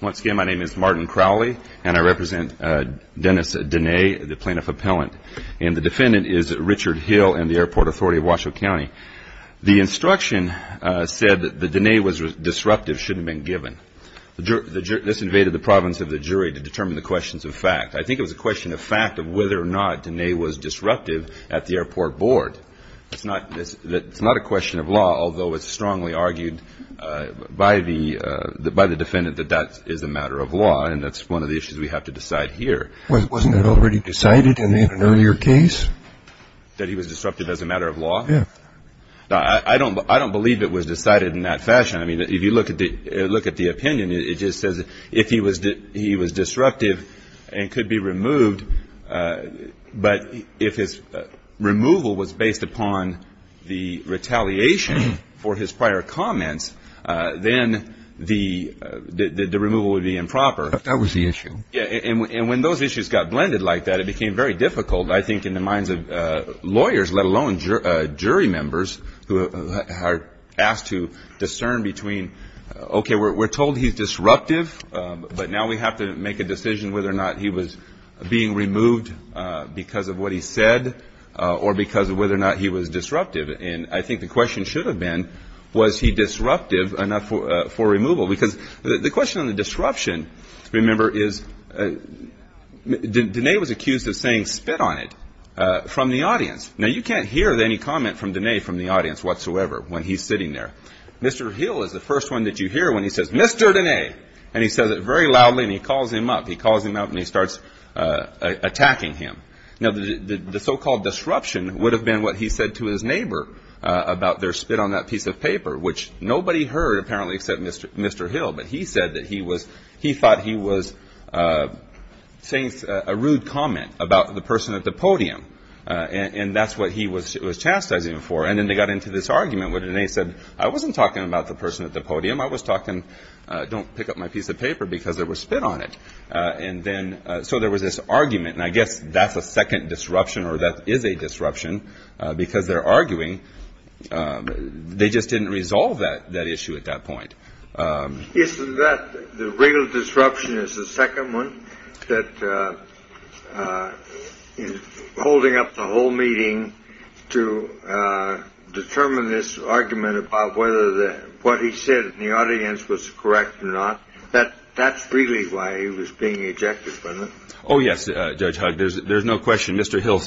Once again, my name is Martin Crowley and I represent Dennis Denae, the plaintiff appellant. And the defendant is Richard Hill in the Airport Authority of Washoe County. The instruction said that the Denae was disruptive should have been given. This invaded the province of the jury to determine the questions of fact. I think it was a question of fact of whether or not Denae was disruptive at the airport board. It's not a question of law, although it's strongly argued by the defendant that that is a matter of law. And that's one of the issues we have to decide here. Wasn't it already decided in an earlier case? That he was disruptive as a matter of law? Yeah. I don't believe it was decided in that fashion. I mean, if you look at the opinion, it just says if he was disruptive and could be removed, but if his removal was based upon the retaliation for his prior comments, then the removal would be improper. That was the issue. Yeah. And when those issues got blended like that, it became very difficult, I think, in the minds of lawyers, let alone jury members who are asked to discern between, okay, we're told he's disruptive, but now we have to make a decision whether or not he was being removed because of what he said or because of whether or not he was disruptive. And I think the question should have been, was he disruptive enough for removal? Because the question on the disruption, remember, is Denae was accused of saying spit on it from the audience. Now, you can't hear any comment from Denae from the audience whatsoever when he's sitting there. Mr. Hill is the first one that you hear when he says, Mr. Denae, and he says it very loudly and he calls him up. He calls him up and he starts attacking him. Now, the so-called disruption would have been what he said to his neighbor about their spit on that piece of paper, which nobody heard apparently except Mr. Hill, but he said that he was he thought he was saying a rude comment about the person at the podium, and that's what he was chastising him for. And then they got into this argument with Denae said, I wasn't talking about the person at the podium. I was talking. Don't pick up my piece of paper because there was spit on it. And then. So there was this argument. And I guess that's a second disruption or that is a disruption because they're arguing. They just didn't resolve that that issue at that point. Isn't that the real disruption is the second one that is holding up the whole meeting to determine this argument about whether what he said in the audience was correct or not, that that's really why he was being ejected from it. Oh, yes. Judge, there's no question. Mr. Hill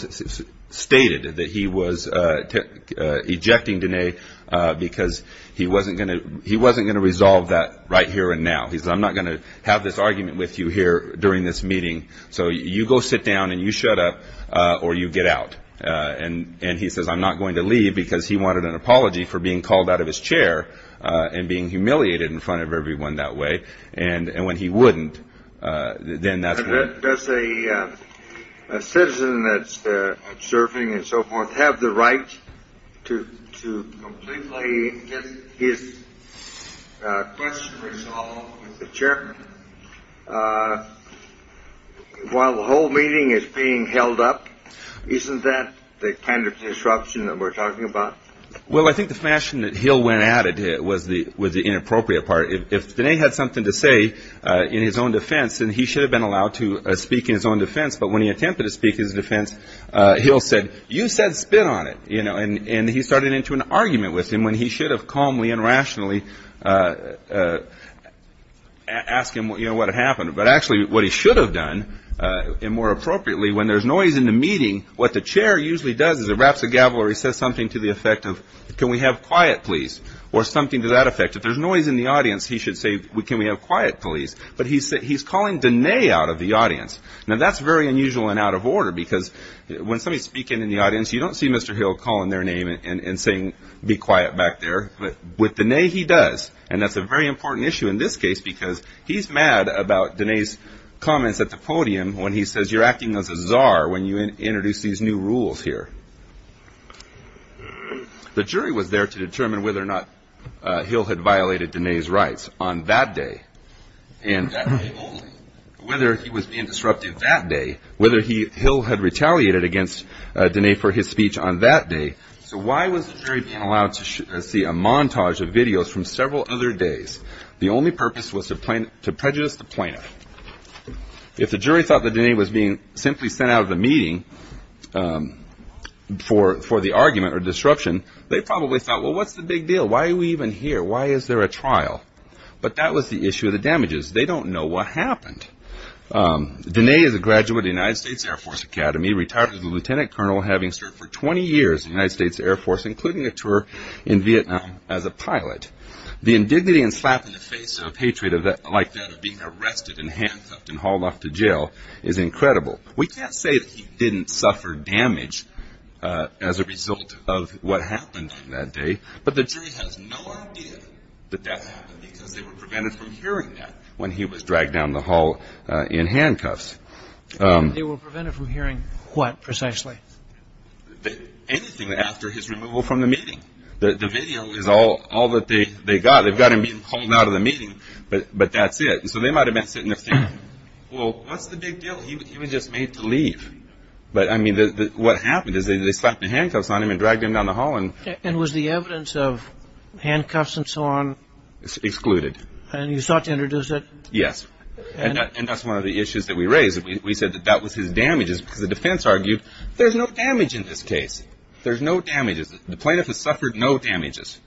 stated that he was ejecting Denae because he wasn't going to he wasn't going to resolve that right here and now he's I'm not going to have this argument with you here during this meeting. So you go sit down and you shut up or you get out. And he says, I'm not going to leave because he wanted an apology for being called out of his chair and being humiliated in front of everyone that way. And when he wouldn't, then that's a citizen that's serving and so forth, have the right to play his question. Sure. While the whole meeting is being held up, isn't that the kind of disruption that we're talking about? Well, I think the fashion that Hill went at it was the was the inappropriate part. If they had something to say in his own defense and he should have been allowed to speak in his own defense. But when he attempted to speak his defense, he'll said, you said spit on it. You know, and he started into an argument with him when he should have calmly and rationally ask him what it happened. But actually what he should have done and more appropriately, when there's noise in the meeting, what the chair usually does is it wraps a gavel or he says something to the effect of can we have quiet, please? Or something to that effect. If there's noise in the audience, he should say, can we have quiet, please? But he said he's calling the name out of the audience. Now, that's very unusual and out of order, because when somebody speaking in the audience, you don't see Mr. Hill calling their name and saying, be quiet back there. But with the name he does. And that's a very important issue in this case, because he's mad about Denae's comments at the podium when he says you're acting as a czar when you introduce these new rules here. The jury was there to determine whether or not Hill had violated Denae's rights on that day. And whether he was being disruptive that day, whether Hill had retaliated against Denae for his speech on that day. So why was the jury being allowed to see a montage of videos from several other days? The only purpose was to prejudice the plaintiff. If the jury thought that Denae was being simply sent out of the meeting for the argument or disruption, they probably thought, well, what's the big deal? Why are we even here? Why is there a trial? But that was the issue of the damages. They don't know what happened. Denae is a graduate of the United States Air Force Academy, retired as a lieutenant colonel, having served for 20 years in the United States Air Force, including a tour in Vietnam as a pilot. The indignity and slap in the face of hatred like that of being arrested and handcuffed and hauled off to jail is incredible. We can't say that he didn't suffer damage as a result of what happened on that day, but the jury has no idea that that happened because they were prevented from hearing that when he was dragged down the hall in handcuffs. They were prevented from hearing what precisely? Anything after his removal from the meeting. The video is all that they got. They've got him being pulled out of the meeting, but that's it. So they might have been sitting there thinking, well, what's the big deal? He was just made to leave. But I mean, what happened is they slapped the handcuffs on him and dragged him down the hall. And was the evidence of handcuffs and so on excluded? And you sought to introduce it? Yes. And that's one of the issues that we raised. We said that that was his damages because the defense argued there's no damage in this case. There's no damages. The plaintiff has suffered no damages.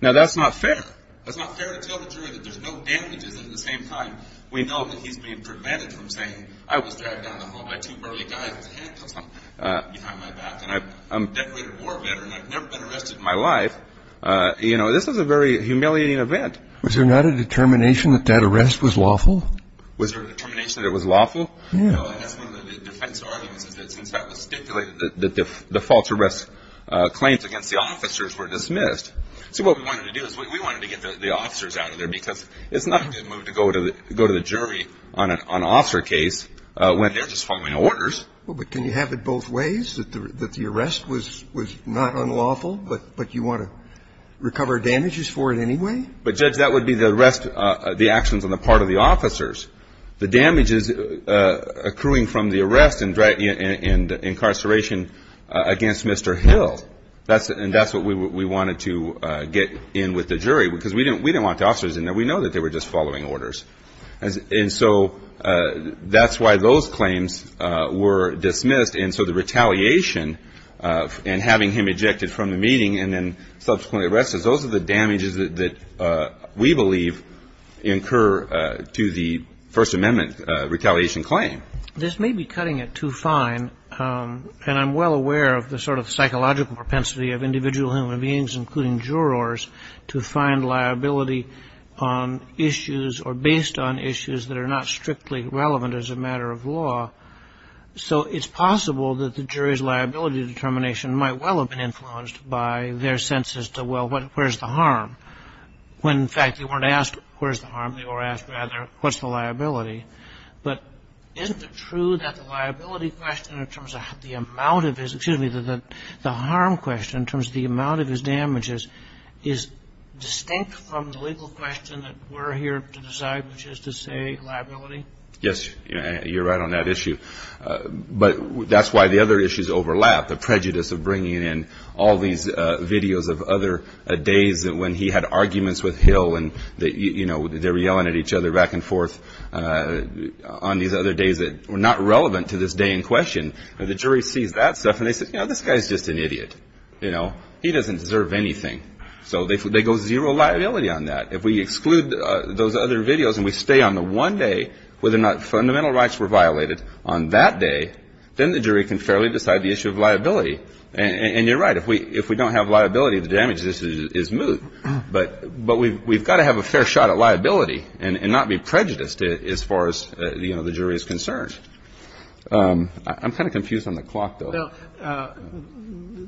Now, that's not fair. That's not fair to tell the jury that there's no damages. And at the same time, we know that he's being prevented from saying I was dragged down the hall by two burly guys with handcuffs on behind my back. And I'm a decorated war veteran. I've never been arrested in my life. You know, this is a very humiliating event. Was there not a determination that that arrest was lawful? Was there a determination that it was lawful? No. And that's one of the defense arguments is that since that was stipulated, that the false arrest claims against the officers were dismissed. See, what we wanted to do is we wanted to get the officers out of there because it's not a good move to go to the jury on an officer case when they're just following orders. Well, but can you have it both ways, that the arrest was not unlawful, but you want to recover damages for it anyway? But, Judge, that would be the arrest, the actions on the part of the officers. The damages accruing from the arrest and incarceration against Mr. Hill, and that's what we wanted to get in with the jury because we didn't want the officers in there. We know that they were just following orders. And so that's why those claims were dismissed. And so the retaliation and having him ejected from the meeting and then subsequently arrested, those are the damages that we believe incur to the First Amendment retaliation claim. This may be cutting it too fine. And I'm well aware of the sort of psychological propensity of individual human beings, including jurors, to find liability on issues or based on issues that are not strictly relevant as a matter of law. So it's possible that the jury's liability determination might well have been influenced by their sense as to, well, where's the harm, when, in fact, they weren't asked where's the harm. They were asked, rather, what's the liability? But isn't it true that the liability question in terms of the amount of his – excuse me, the harm question in terms of the amount of his damages is distinct from the legal question that we're here to decide, which is to say liability? Yes, you're right on that issue. But that's why the other issues overlap. The prejudice of bringing in all these videos of other days when he had arguments with Hill and they were yelling at each other back and forth on these other days that were not relevant to this day in question. The jury sees that stuff and they say, you know, this guy's just an idiot. You know, he doesn't deserve anything. So they go zero liability on that. If we exclude those other videos and we stay on the one day where the fundamental rights were violated on that day, then the jury can fairly decide the issue of liability. And you're right. If we don't have liability, the damage is moot. But we've got to have a fair shot at liability and not be prejudiced as far as, you know, the jury is concerned. I'm kind of confused on the clock, though. Well,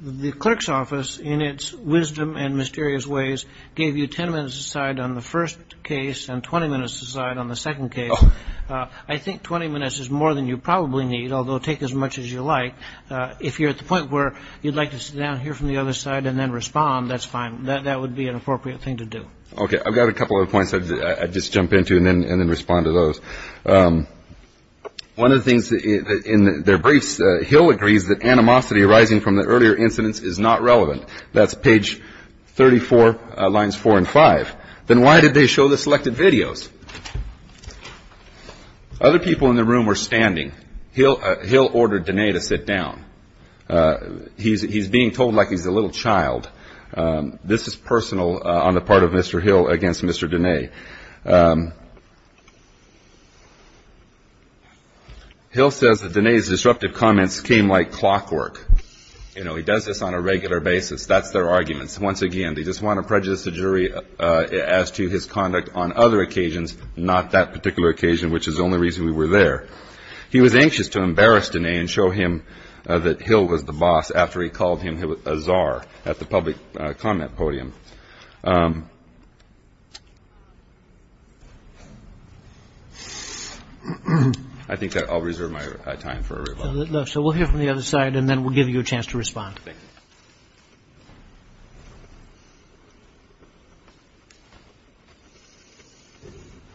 the clerk's office, in its wisdom and mysterious ways, gave you 10 minutes to decide on the first case and 20 minutes to decide on the second case. I think 20 minutes is more than you probably need, although take as much as you like. If you're at the point where you'd like to sit down here from the other side and then respond, that's fine. That would be an appropriate thing to do. Okay. I've got a couple of points I'd just jump into and then respond to those. One of the things in their briefs, Hill agrees that animosity arising from the earlier incidents is not relevant. That's page 34, lines 4 and 5. Then why did they show the selected videos? Other people in the room were standing. Hill ordered Diné to sit down. He's being told like he's a little child. This is personal on the part of Mr. Hill against Mr. Diné. Hill says that Diné's disruptive comments came like clockwork. You know, he does this on a regular basis. That's their arguments. Once again, they just want to prejudice the jury as to his conduct on other occasions, not that particular occasion, which is the only reason we were there. He was anxious to embarrass Diné and show him that Hill was the boss after he called him a czar at the public comment podium. I think that I'll reserve my time for a rebuttal. So we'll hear from the other side and then we'll give you a chance to respond. Thank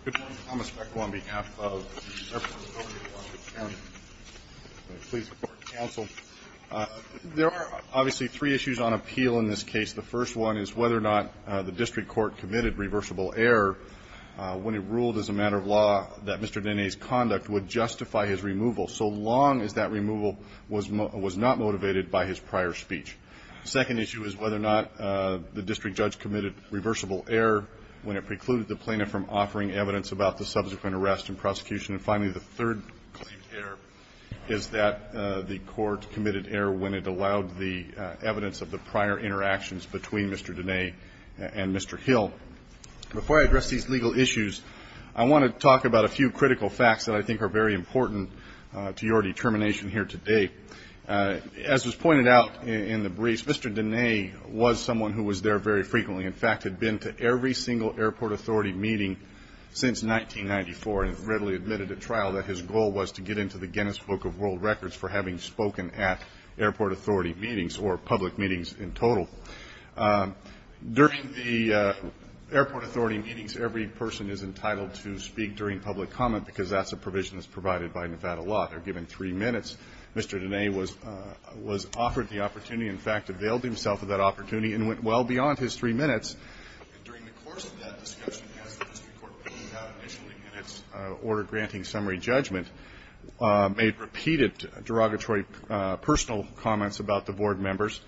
you. Good morning. Thomas Beck on behalf of the Department of Public Affairs. Please support counsel. There are obviously three issues on appeal in this case. The first one is whether or not the district court committed reversible error when it ruled, as a matter of law, that Mr. Diné's conduct would justify his removal so long as that removal was not motivated by his prior speech. The second issue is whether or not the district judge committed reversible error when it precluded the plaintiff from offering evidence about the subsequent arrest and prosecution. And finally, the third claimed error is that the court committed error when it allowed the evidence of the prior interactions between Mr. Diné and Mr. Hill. Before I address these legal issues, I want to talk about a few critical facts that I think are very important to your determination here today. As was pointed out in the brief, Mr. Diné was someone who was there very frequently, in fact, had been to every single airport authority meeting since 1994, and readily admitted at trial that his goal was to get into the Guinness Book of World Records for having spoken at airport authority meetings or public meetings in total. During the airport authority meetings, every person is entitled to speak during public comment, because that's a provision that's provided by Nevada law. They're given three minutes. Mr. Diné was offered the opportunity, in fact, availed himself of that opportunity and went well beyond his three minutes. During the course of that discussion, as the district court ruled out initially in its order-granting summary judgment, made repeated derogatory personal comments about the board members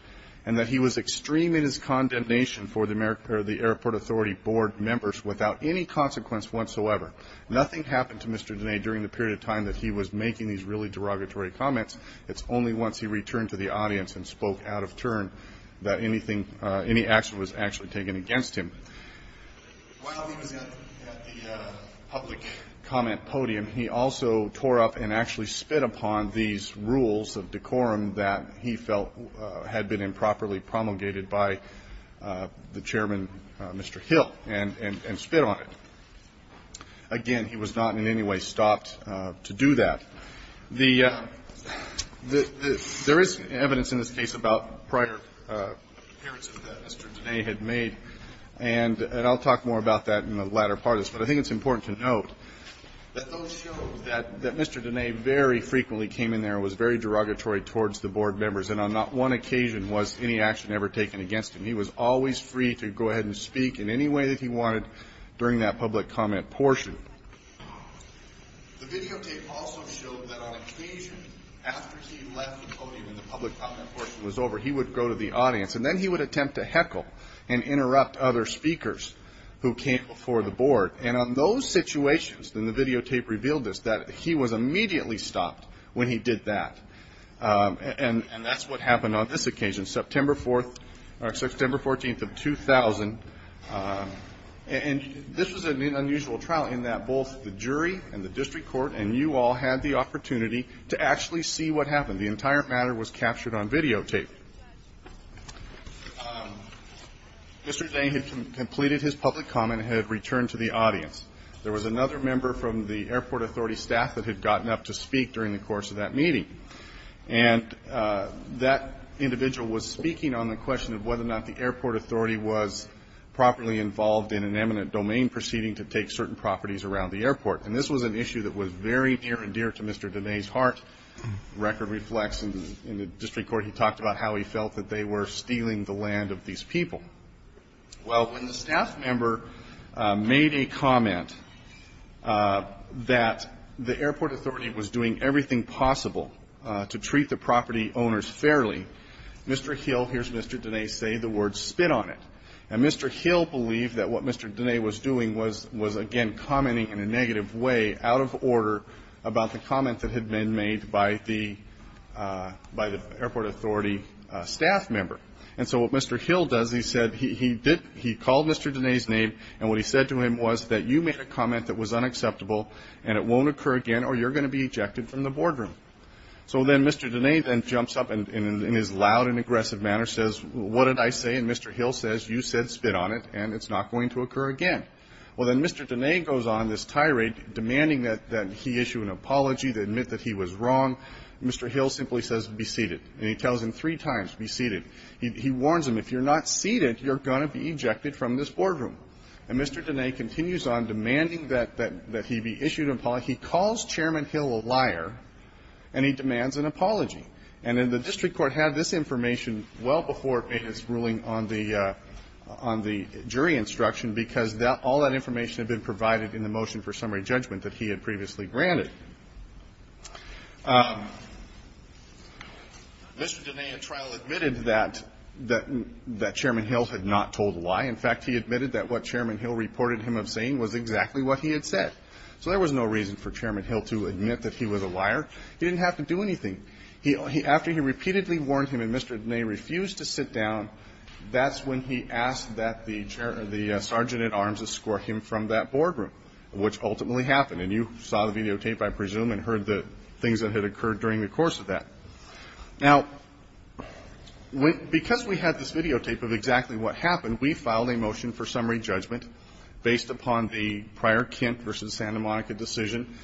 and that he was extreme in his condemnation for the airport authority board members without any consequence whatsoever. Nothing happened to Mr. Diné during the period of time that he was making these really derogatory comments. It's only once he returned to the audience and spoke out of turn that any action was actually taken against him. While he was at the public comment podium, he also tore up and actually spit upon these rules of decorum that he felt had been improperly promulgated by the chairman, Mr. Hill, and spit on it. Again, he was not in any way stopped to do that. There is evidence in this case about prior appearances that Mr. Diné had made, and I'll talk more about that in the latter part of this, but I think it's important to note that those show that Mr. Diné very frequently came in there and was very derogatory towards the board members, and on not one occasion was any action ever taken against him. He was always free to go ahead and speak in any way that he wanted during that public comment portion. The videotape also showed that on occasion, after he left the podium and the public comment portion was over, he would go to the audience, and then he would attempt to heckle and interrupt other speakers who came before the board, and on those situations, then the videotape revealed this, that he was immediately stopped when he did that, and that's what happened on this occasion, September 14th of 2000. And this was an unusual trial in that both the jury and the district court and you all had the opportunity to actually see what happened. The entire matter was captured on videotape. Mr. Diné had completed his public comment and had returned to the audience. There was another member from the airport authority staff that had gotten up to speak during the course of that meeting, and that individual was speaking on the question of whether or not the airport authority was properly involved in an eminent domain proceeding to take certain properties around the airport, and this was an issue that was very near and dear to Mr. Diné's heart. Record reflects in the district court he talked about how he felt that they were stealing the land of these people. Well, when the staff member made a comment that the airport authority was doing everything possible to treat the property owners fairly, Mr. Hill, here's Mr. Diné say, the words spit on it. And Mr. Hill believed that what Mr. Diné was doing was, again, commenting in a negative way, out of order about the comment that had been made by the airport authority staff member. And so what Mr. Hill does, he said he called Mr. Diné's name, and what he said to him was that you made a comment that was unacceptable and it won't occur again or you're going to be ejected from the boardroom. So then Mr. Diné then jumps up and in his loud and aggressive manner says, what did I say? And Mr. Hill says, you said spit on it and it's not going to occur again. Well, then Mr. Diné goes on this tirade demanding that he issue an apology to admit that he was wrong. Mr. Hill simply says be seated. And he tells him three times, be seated. He warns him, if you're not seated, you're going to be ejected from this boardroom. And Mr. Diné continues on demanding that he be issued an apology. He calls Chairman Hill a liar and he demands an apology. And then the district court had this information well before it made its ruling on the jury instruction because all that information had been provided in the motion for summary judgment that he had previously granted. Mr. Diné at trial admitted that Chairman Hill had not told a lie. In fact, he admitted that what Chairman Hill reported him of saying was exactly what he had said. So there was no reason for Chairman Hill to admit that he was a liar. He didn't have to do anything. After he repeatedly warned him and Mr. Diné refused to sit down, that's when he asked that the sergeant at arms escort him from that boardroom, which ultimately happened. And you saw the videotape, I presume, and heard the things that had occurred during the course of that. Now, because we had this videotape of exactly what happened, we filed a motion for summary judgment based upon the prior Kent v. Santa Monica decision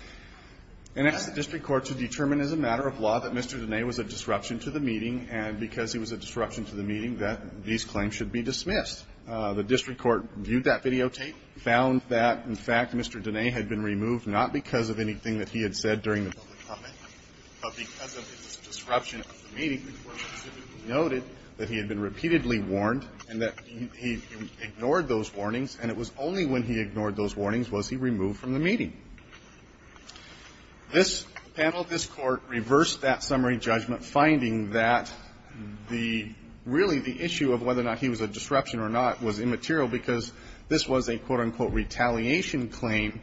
and asked the district court to determine as a matter of law that Mr. Diné was a disruption to the meeting and because he was a disruption to the meeting that these claims should be dismissed. The district court viewed that videotape, found that, in fact, Mr. Diné had been removed not because of anything that he had said during the public comment, but because of the disruption of the meeting, the court specifically noted that he had been repeatedly warned and that he ignored those warnings and it was only when he ignored those warnings was he removed from the meeting. This panel, this court reversed that summary judgment, finding that the, really, the issue of whether or not he was a disruption or not was immaterial because this was a, quote-unquote, retaliation claim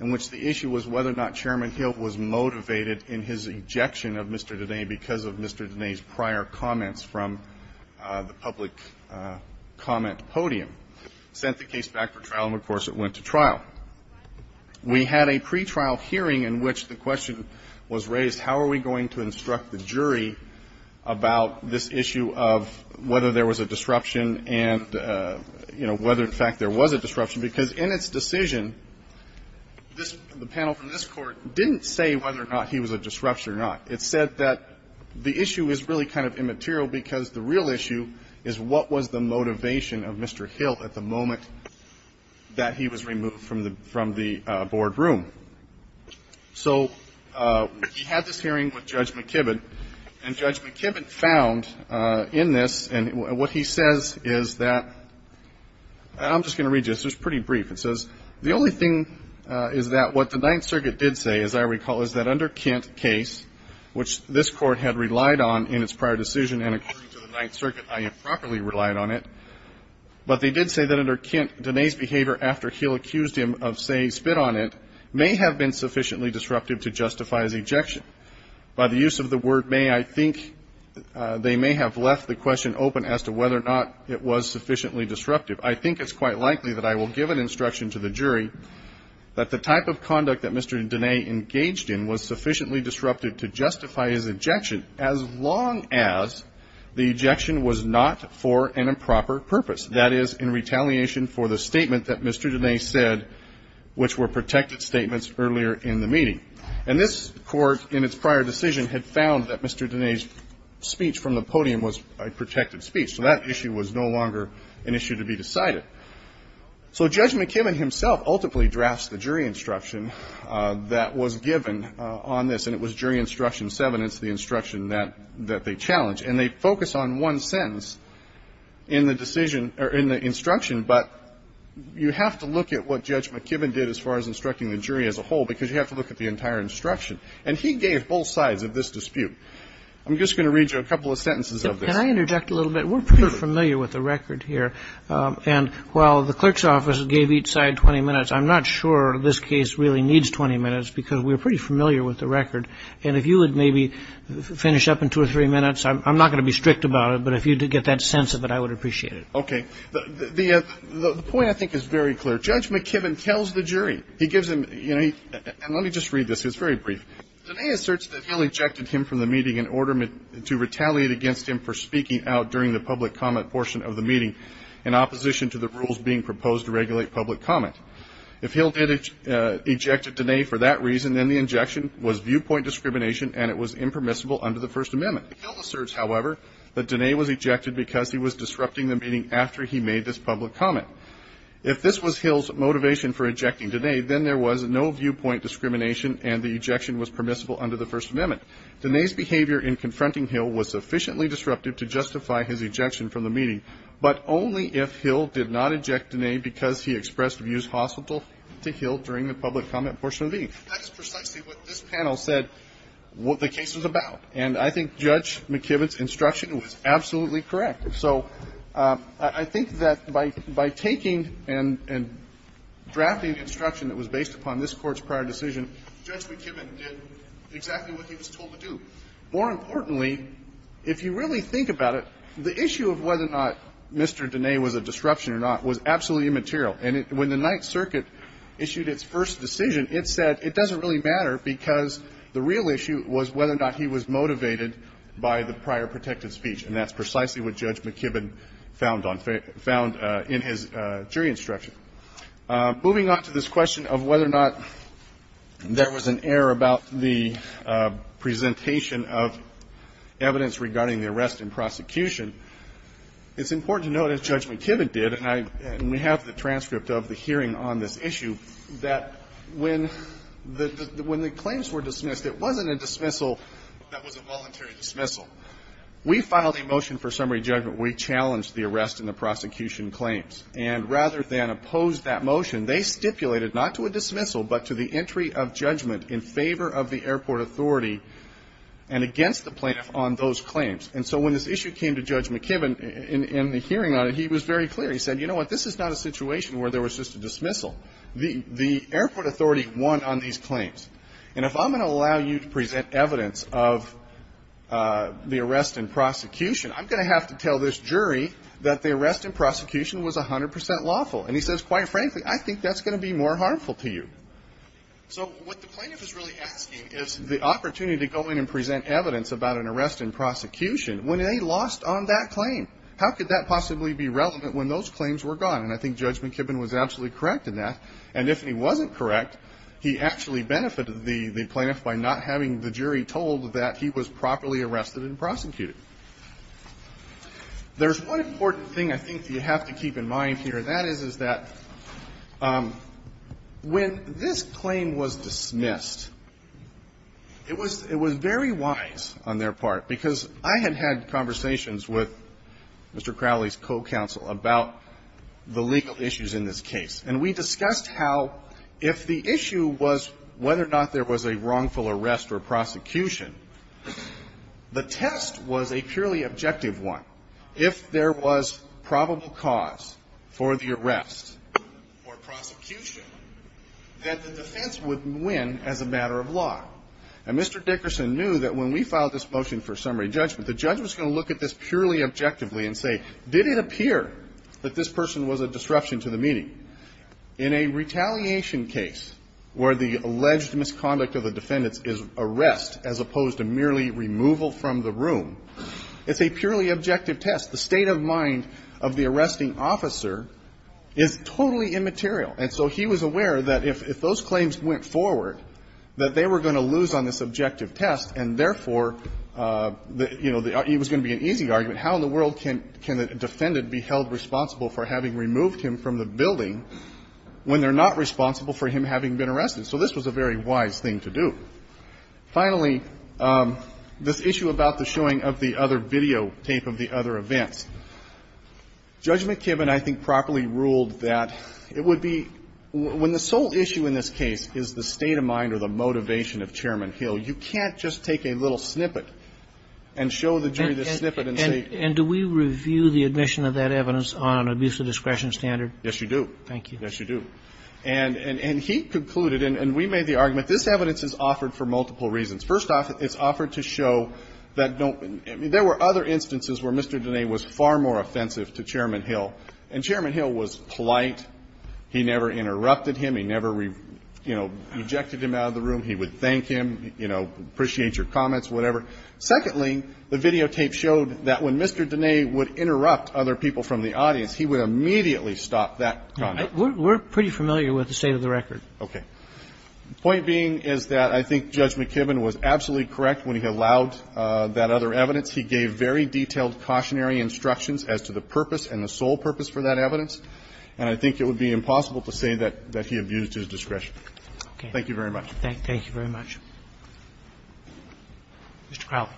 in which the issue was whether or not Chairman Hill was motivated in his ejection of Mr. Diné because of Mr. Diné's prior comments from the public comment podium. Sent the case back for trial and, of course, it went to trial. We had a pretrial hearing in which the question was raised, how are we going to instruct the jury about this issue of whether there was a disruption and, you know, whether in fact there was a disruption, because in its decision, this, the panel from this panel, it said whether there was a disruption or not. It said that the issue is really kind of immaterial because the real issue is what was the motivation of Mr. Hill at the moment that he was removed from the boardroom. So he had this hearing with Judge McKibbin, and Judge McKibbin found in this, and what he says is that, and I'm just going to read you this, it's pretty brief. It says, the only thing is that what the Ninth Circuit did say, as I recall, is that under Kent case, which this Court had relied on in its prior decision, and according to the Ninth Circuit, I improperly relied on it, but they did say that under Kent, Diné's behavior after Hill accused him of, say, spit on it, may have been sufficiently disruptive to justify his ejection. By the use of the word may, I think they may have left the question open as to whether or not it was sufficiently disruptive. I think it's quite likely that I will give an instruction to the jury that the type of conduct that Mr. Diné engaged in was sufficiently disruptive to justify his ejection as long as the ejection was not for an improper purpose. That is, in retaliation for the statement that Mr. Diné said, which were protected statements earlier in the meeting. And this Court, in its prior decision, had found that Mr. Diné's speech from the podium was a protected speech. So that issue was no longer an issue to be decided. So Judge McKibben himself ultimately drafts the jury instruction that was given on this, and it was jury instruction seven. It's the instruction that they challenged. And they focus on one sentence in the decision or in the instruction, but you have to look at what Judge McKibben did as far as instructing the jury as a whole, because you have to look at the entire instruction. And he gave both sides of this dispute. I'm just going to read you a couple of sentences of this. Can I interject a little bit? We're pretty familiar with the record here. And while the clerk's office gave each side 20 minutes, I'm not sure this case really needs 20 minutes because we're pretty familiar with the record. And if you would maybe finish up in two or three minutes, I'm not going to be strict about it, but if you could get that sense of it, I would appreciate it. Okay. The point I think is very clear. Judge McKibben tells the jury. He gives them, you know, and let me just read this. It's very brief. Diné asserts that Hill ejected him from the meeting in order to retaliate against him for speaking out during the public comment portion of the meeting in opposition to the rules being proposed to regulate public comment. If Hill did eject Diné for that reason, then the injection was viewpoint discrimination and it was impermissible under the First Amendment. Hill asserts, however, that Diné was ejected because he was disrupting the meeting after he made this public comment. If this was Hill's motivation for ejecting Diné, then there was no viewpoint discrimination and the ejection was permissible under the First Amendment. Diné's behavior in confronting Hill was sufficiently disruptive to justify his ejection from the meeting, but only if Hill did not eject Diné because he expressed views hostile to Hill during the public comment portion of the meeting. That is precisely what this panel said what the case was about. And I think Judge McKibben's instruction was absolutely correct. So I think that by taking and drafting instruction that was based upon this Court's instruction, that's exactly what the Court was told to do. More importantly, if you really think about it, the issue of whether or not Mr. Diné was a disruption or not was absolutely immaterial. And when the Ninth Circuit issued its first decision, it said it doesn't really matter because the real issue was whether or not he was motivated by the prior protected speech. And that's precisely what Judge McKibben found on fair – found in his jury instruction. Moving on to this question of whether or not there was an error about the presentation of evidence regarding the arrest and prosecution, it's important to note, as Judge McKibben did, and I – and we have the transcript of the hearing on this issue, that when the – when the claims were dismissed, it wasn't a dismissal that was a voluntary dismissal. We filed a motion for summary judgment where we challenged the arrest and the prosecution claims. And rather than oppose that motion, they stipulated not to a dismissal but to the entry of judgment in favor of the airport authority and against the plaintiff on those claims. And so when this issue came to Judge McKibben in the hearing on it, he was very clear. He said, you know what, this is not a situation where there was just a dismissal. The airport authority won on these claims. And if I'm going to allow you to present evidence of the arrest and prosecution, I'm lawful. And he says, quite frankly, I think that's going to be more harmful to you. So what the plaintiff is really asking is the opportunity to go in and present evidence about an arrest and prosecution when they lost on that claim. How could that possibly be relevant when those claims were gone? And I think Judge McKibben was absolutely correct in that. And if he wasn't correct, he actually benefited the plaintiff by not having the jury told that he was properly arrested and prosecuted. There's one important thing I think you have to keep in mind here, and that is, is that when this claim was dismissed, it was very wise on their part, because I had had conversations with Mr. Crowley's co-counsel about the legal issues in this case. And we discussed how if the issue was whether or not there was a wrongful arrest or prosecution, the test was a purely objective one. If there was probable cause for the arrest or prosecution, that the defense would win as a matter of law. And Mr. Dickerson knew that when we filed this motion for summary judgment, the judge was going to look at this purely objectively and say, did it appear that this person was a disruption to the meeting? In a retaliation case where the alleged misconduct of the defendants is arrest as opposed to merely removal from the room, it's a purely objective test. The state of mind of the arresting officer is totally immaterial. And so he was aware that if those claims went forward, that they were going to lose on this objective test, and therefore, you know, it was going to be an easy argument. How in the world can the defendant be held responsible for having removed him from the building when they're not responsible for him having been arrested? So this was a very wise thing to do. Finally, this issue about the showing of the other videotape of the other events. Judge McKibbin, I think, properly ruled that it would be when the sole issue in this case is the state of mind or the motivation of Chairman Hill, you can't just take a little snippet and show the jury the snippet and say --" And do we review the admission of that evidence on abuse of discretion standard? Yes, you do. Thank you. Yes, you do. And he concluded, and we made the argument, this evidence is offered for multiple reasons. First off, it's offered to show that no one --" I mean, there were other instances where Mr. Dene was far more offensive to Chairman Hill. And Chairman Hill was polite. He never interrupted him. He never, you know, rejected him out of the room. He would thank him. He would, you know, appreciate your comments, whatever. Secondly, the videotape showed that when Mr. Dene would interrupt other people from the audience, he would immediately stop that comment. We're pretty familiar with the state of the record. Okay. The point being is that I think Judge McKibbin was absolutely correct when he allowed that other evidence. He gave very detailed cautionary instructions as to the purpose and the sole purpose for that evidence. And I think it would be impossible to say that he abused his discretion. Thank you very much. Thank you very much. Mr. Crowley.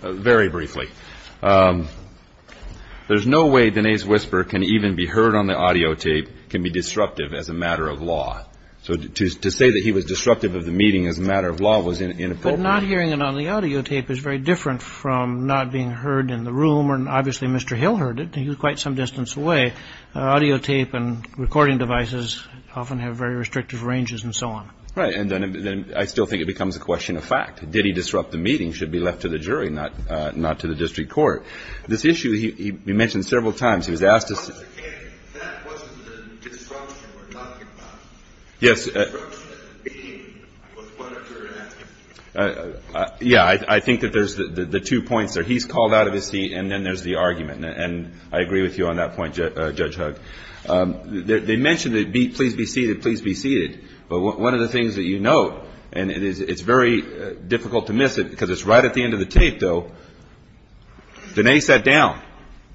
Very briefly. There's no way Dene's whisper can even be heard on the audio tape can be disruptive as a matter of law. So to say that he was disruptive of the meeting as a matter of law was inappropriate. But not hearing it on the audio tape is very different from not being heard in the room. And obviously Mr. Hill heard it. He was quite some distance away. Audio tape and recording devices often have very restrictive ranges and so on. Right. And then I still think it becomes a question of fact. Did he disrupt the meeting? It should be left to the jury, not to the district court. This issue he mentioned several times. He was asked to... That wasn't the disruption we're talking about. Yes. The disruption of the meeting was what occurred at the meeting. Yeah. He's called out of his seat and then there's the argument. And I agree with you on that point, Judge Hugg. They mentioned the please be seated, please be seated. But one of the things that you note, and it's very difficult to miss it because it's right at the end of the tape, though, Dene sat down.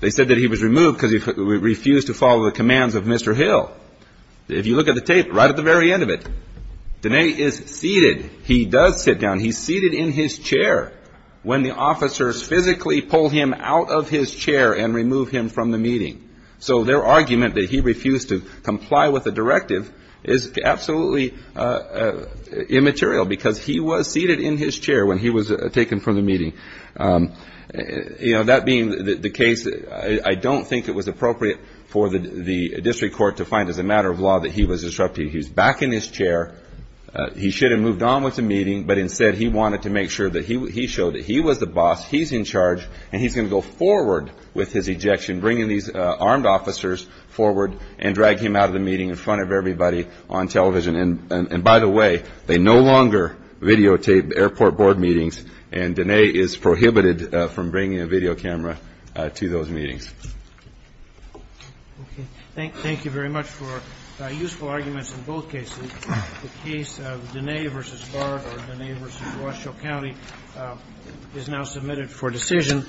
They said that he was removed because he refused to follow the commands of Mr. Hill. If you look at the tape, right at the very end of it, Dene is seated. He does sit down. He's seated in his chair. When the officers physically pull him out of his chair and remove him from the meeting. So their argument that he refused to comply with the directive is absolutely immaterial because he was seated in his chair when he was taken from the meeting. You know, that being the case, I don't think it was appropriate for the district court to find, as a matter of law, that he was disrupted. He was back in his chair. He should have moved on with the meeting, but instead he wanted to make sure that he showed that he was the boss, he's in charge, and he's going to go forward with his ejection, bringing these armed officers forward and drag him out of the meeting in front of everybody on television. And by the way, they no longer videotape airport board meetings, and Dene is prohibited from bringing a video camera to those meetings. Okay. Thank you very much for useful arguments in both cases. The case of Dene v. Bard or Dene v. Washoe County is now submitted for decision.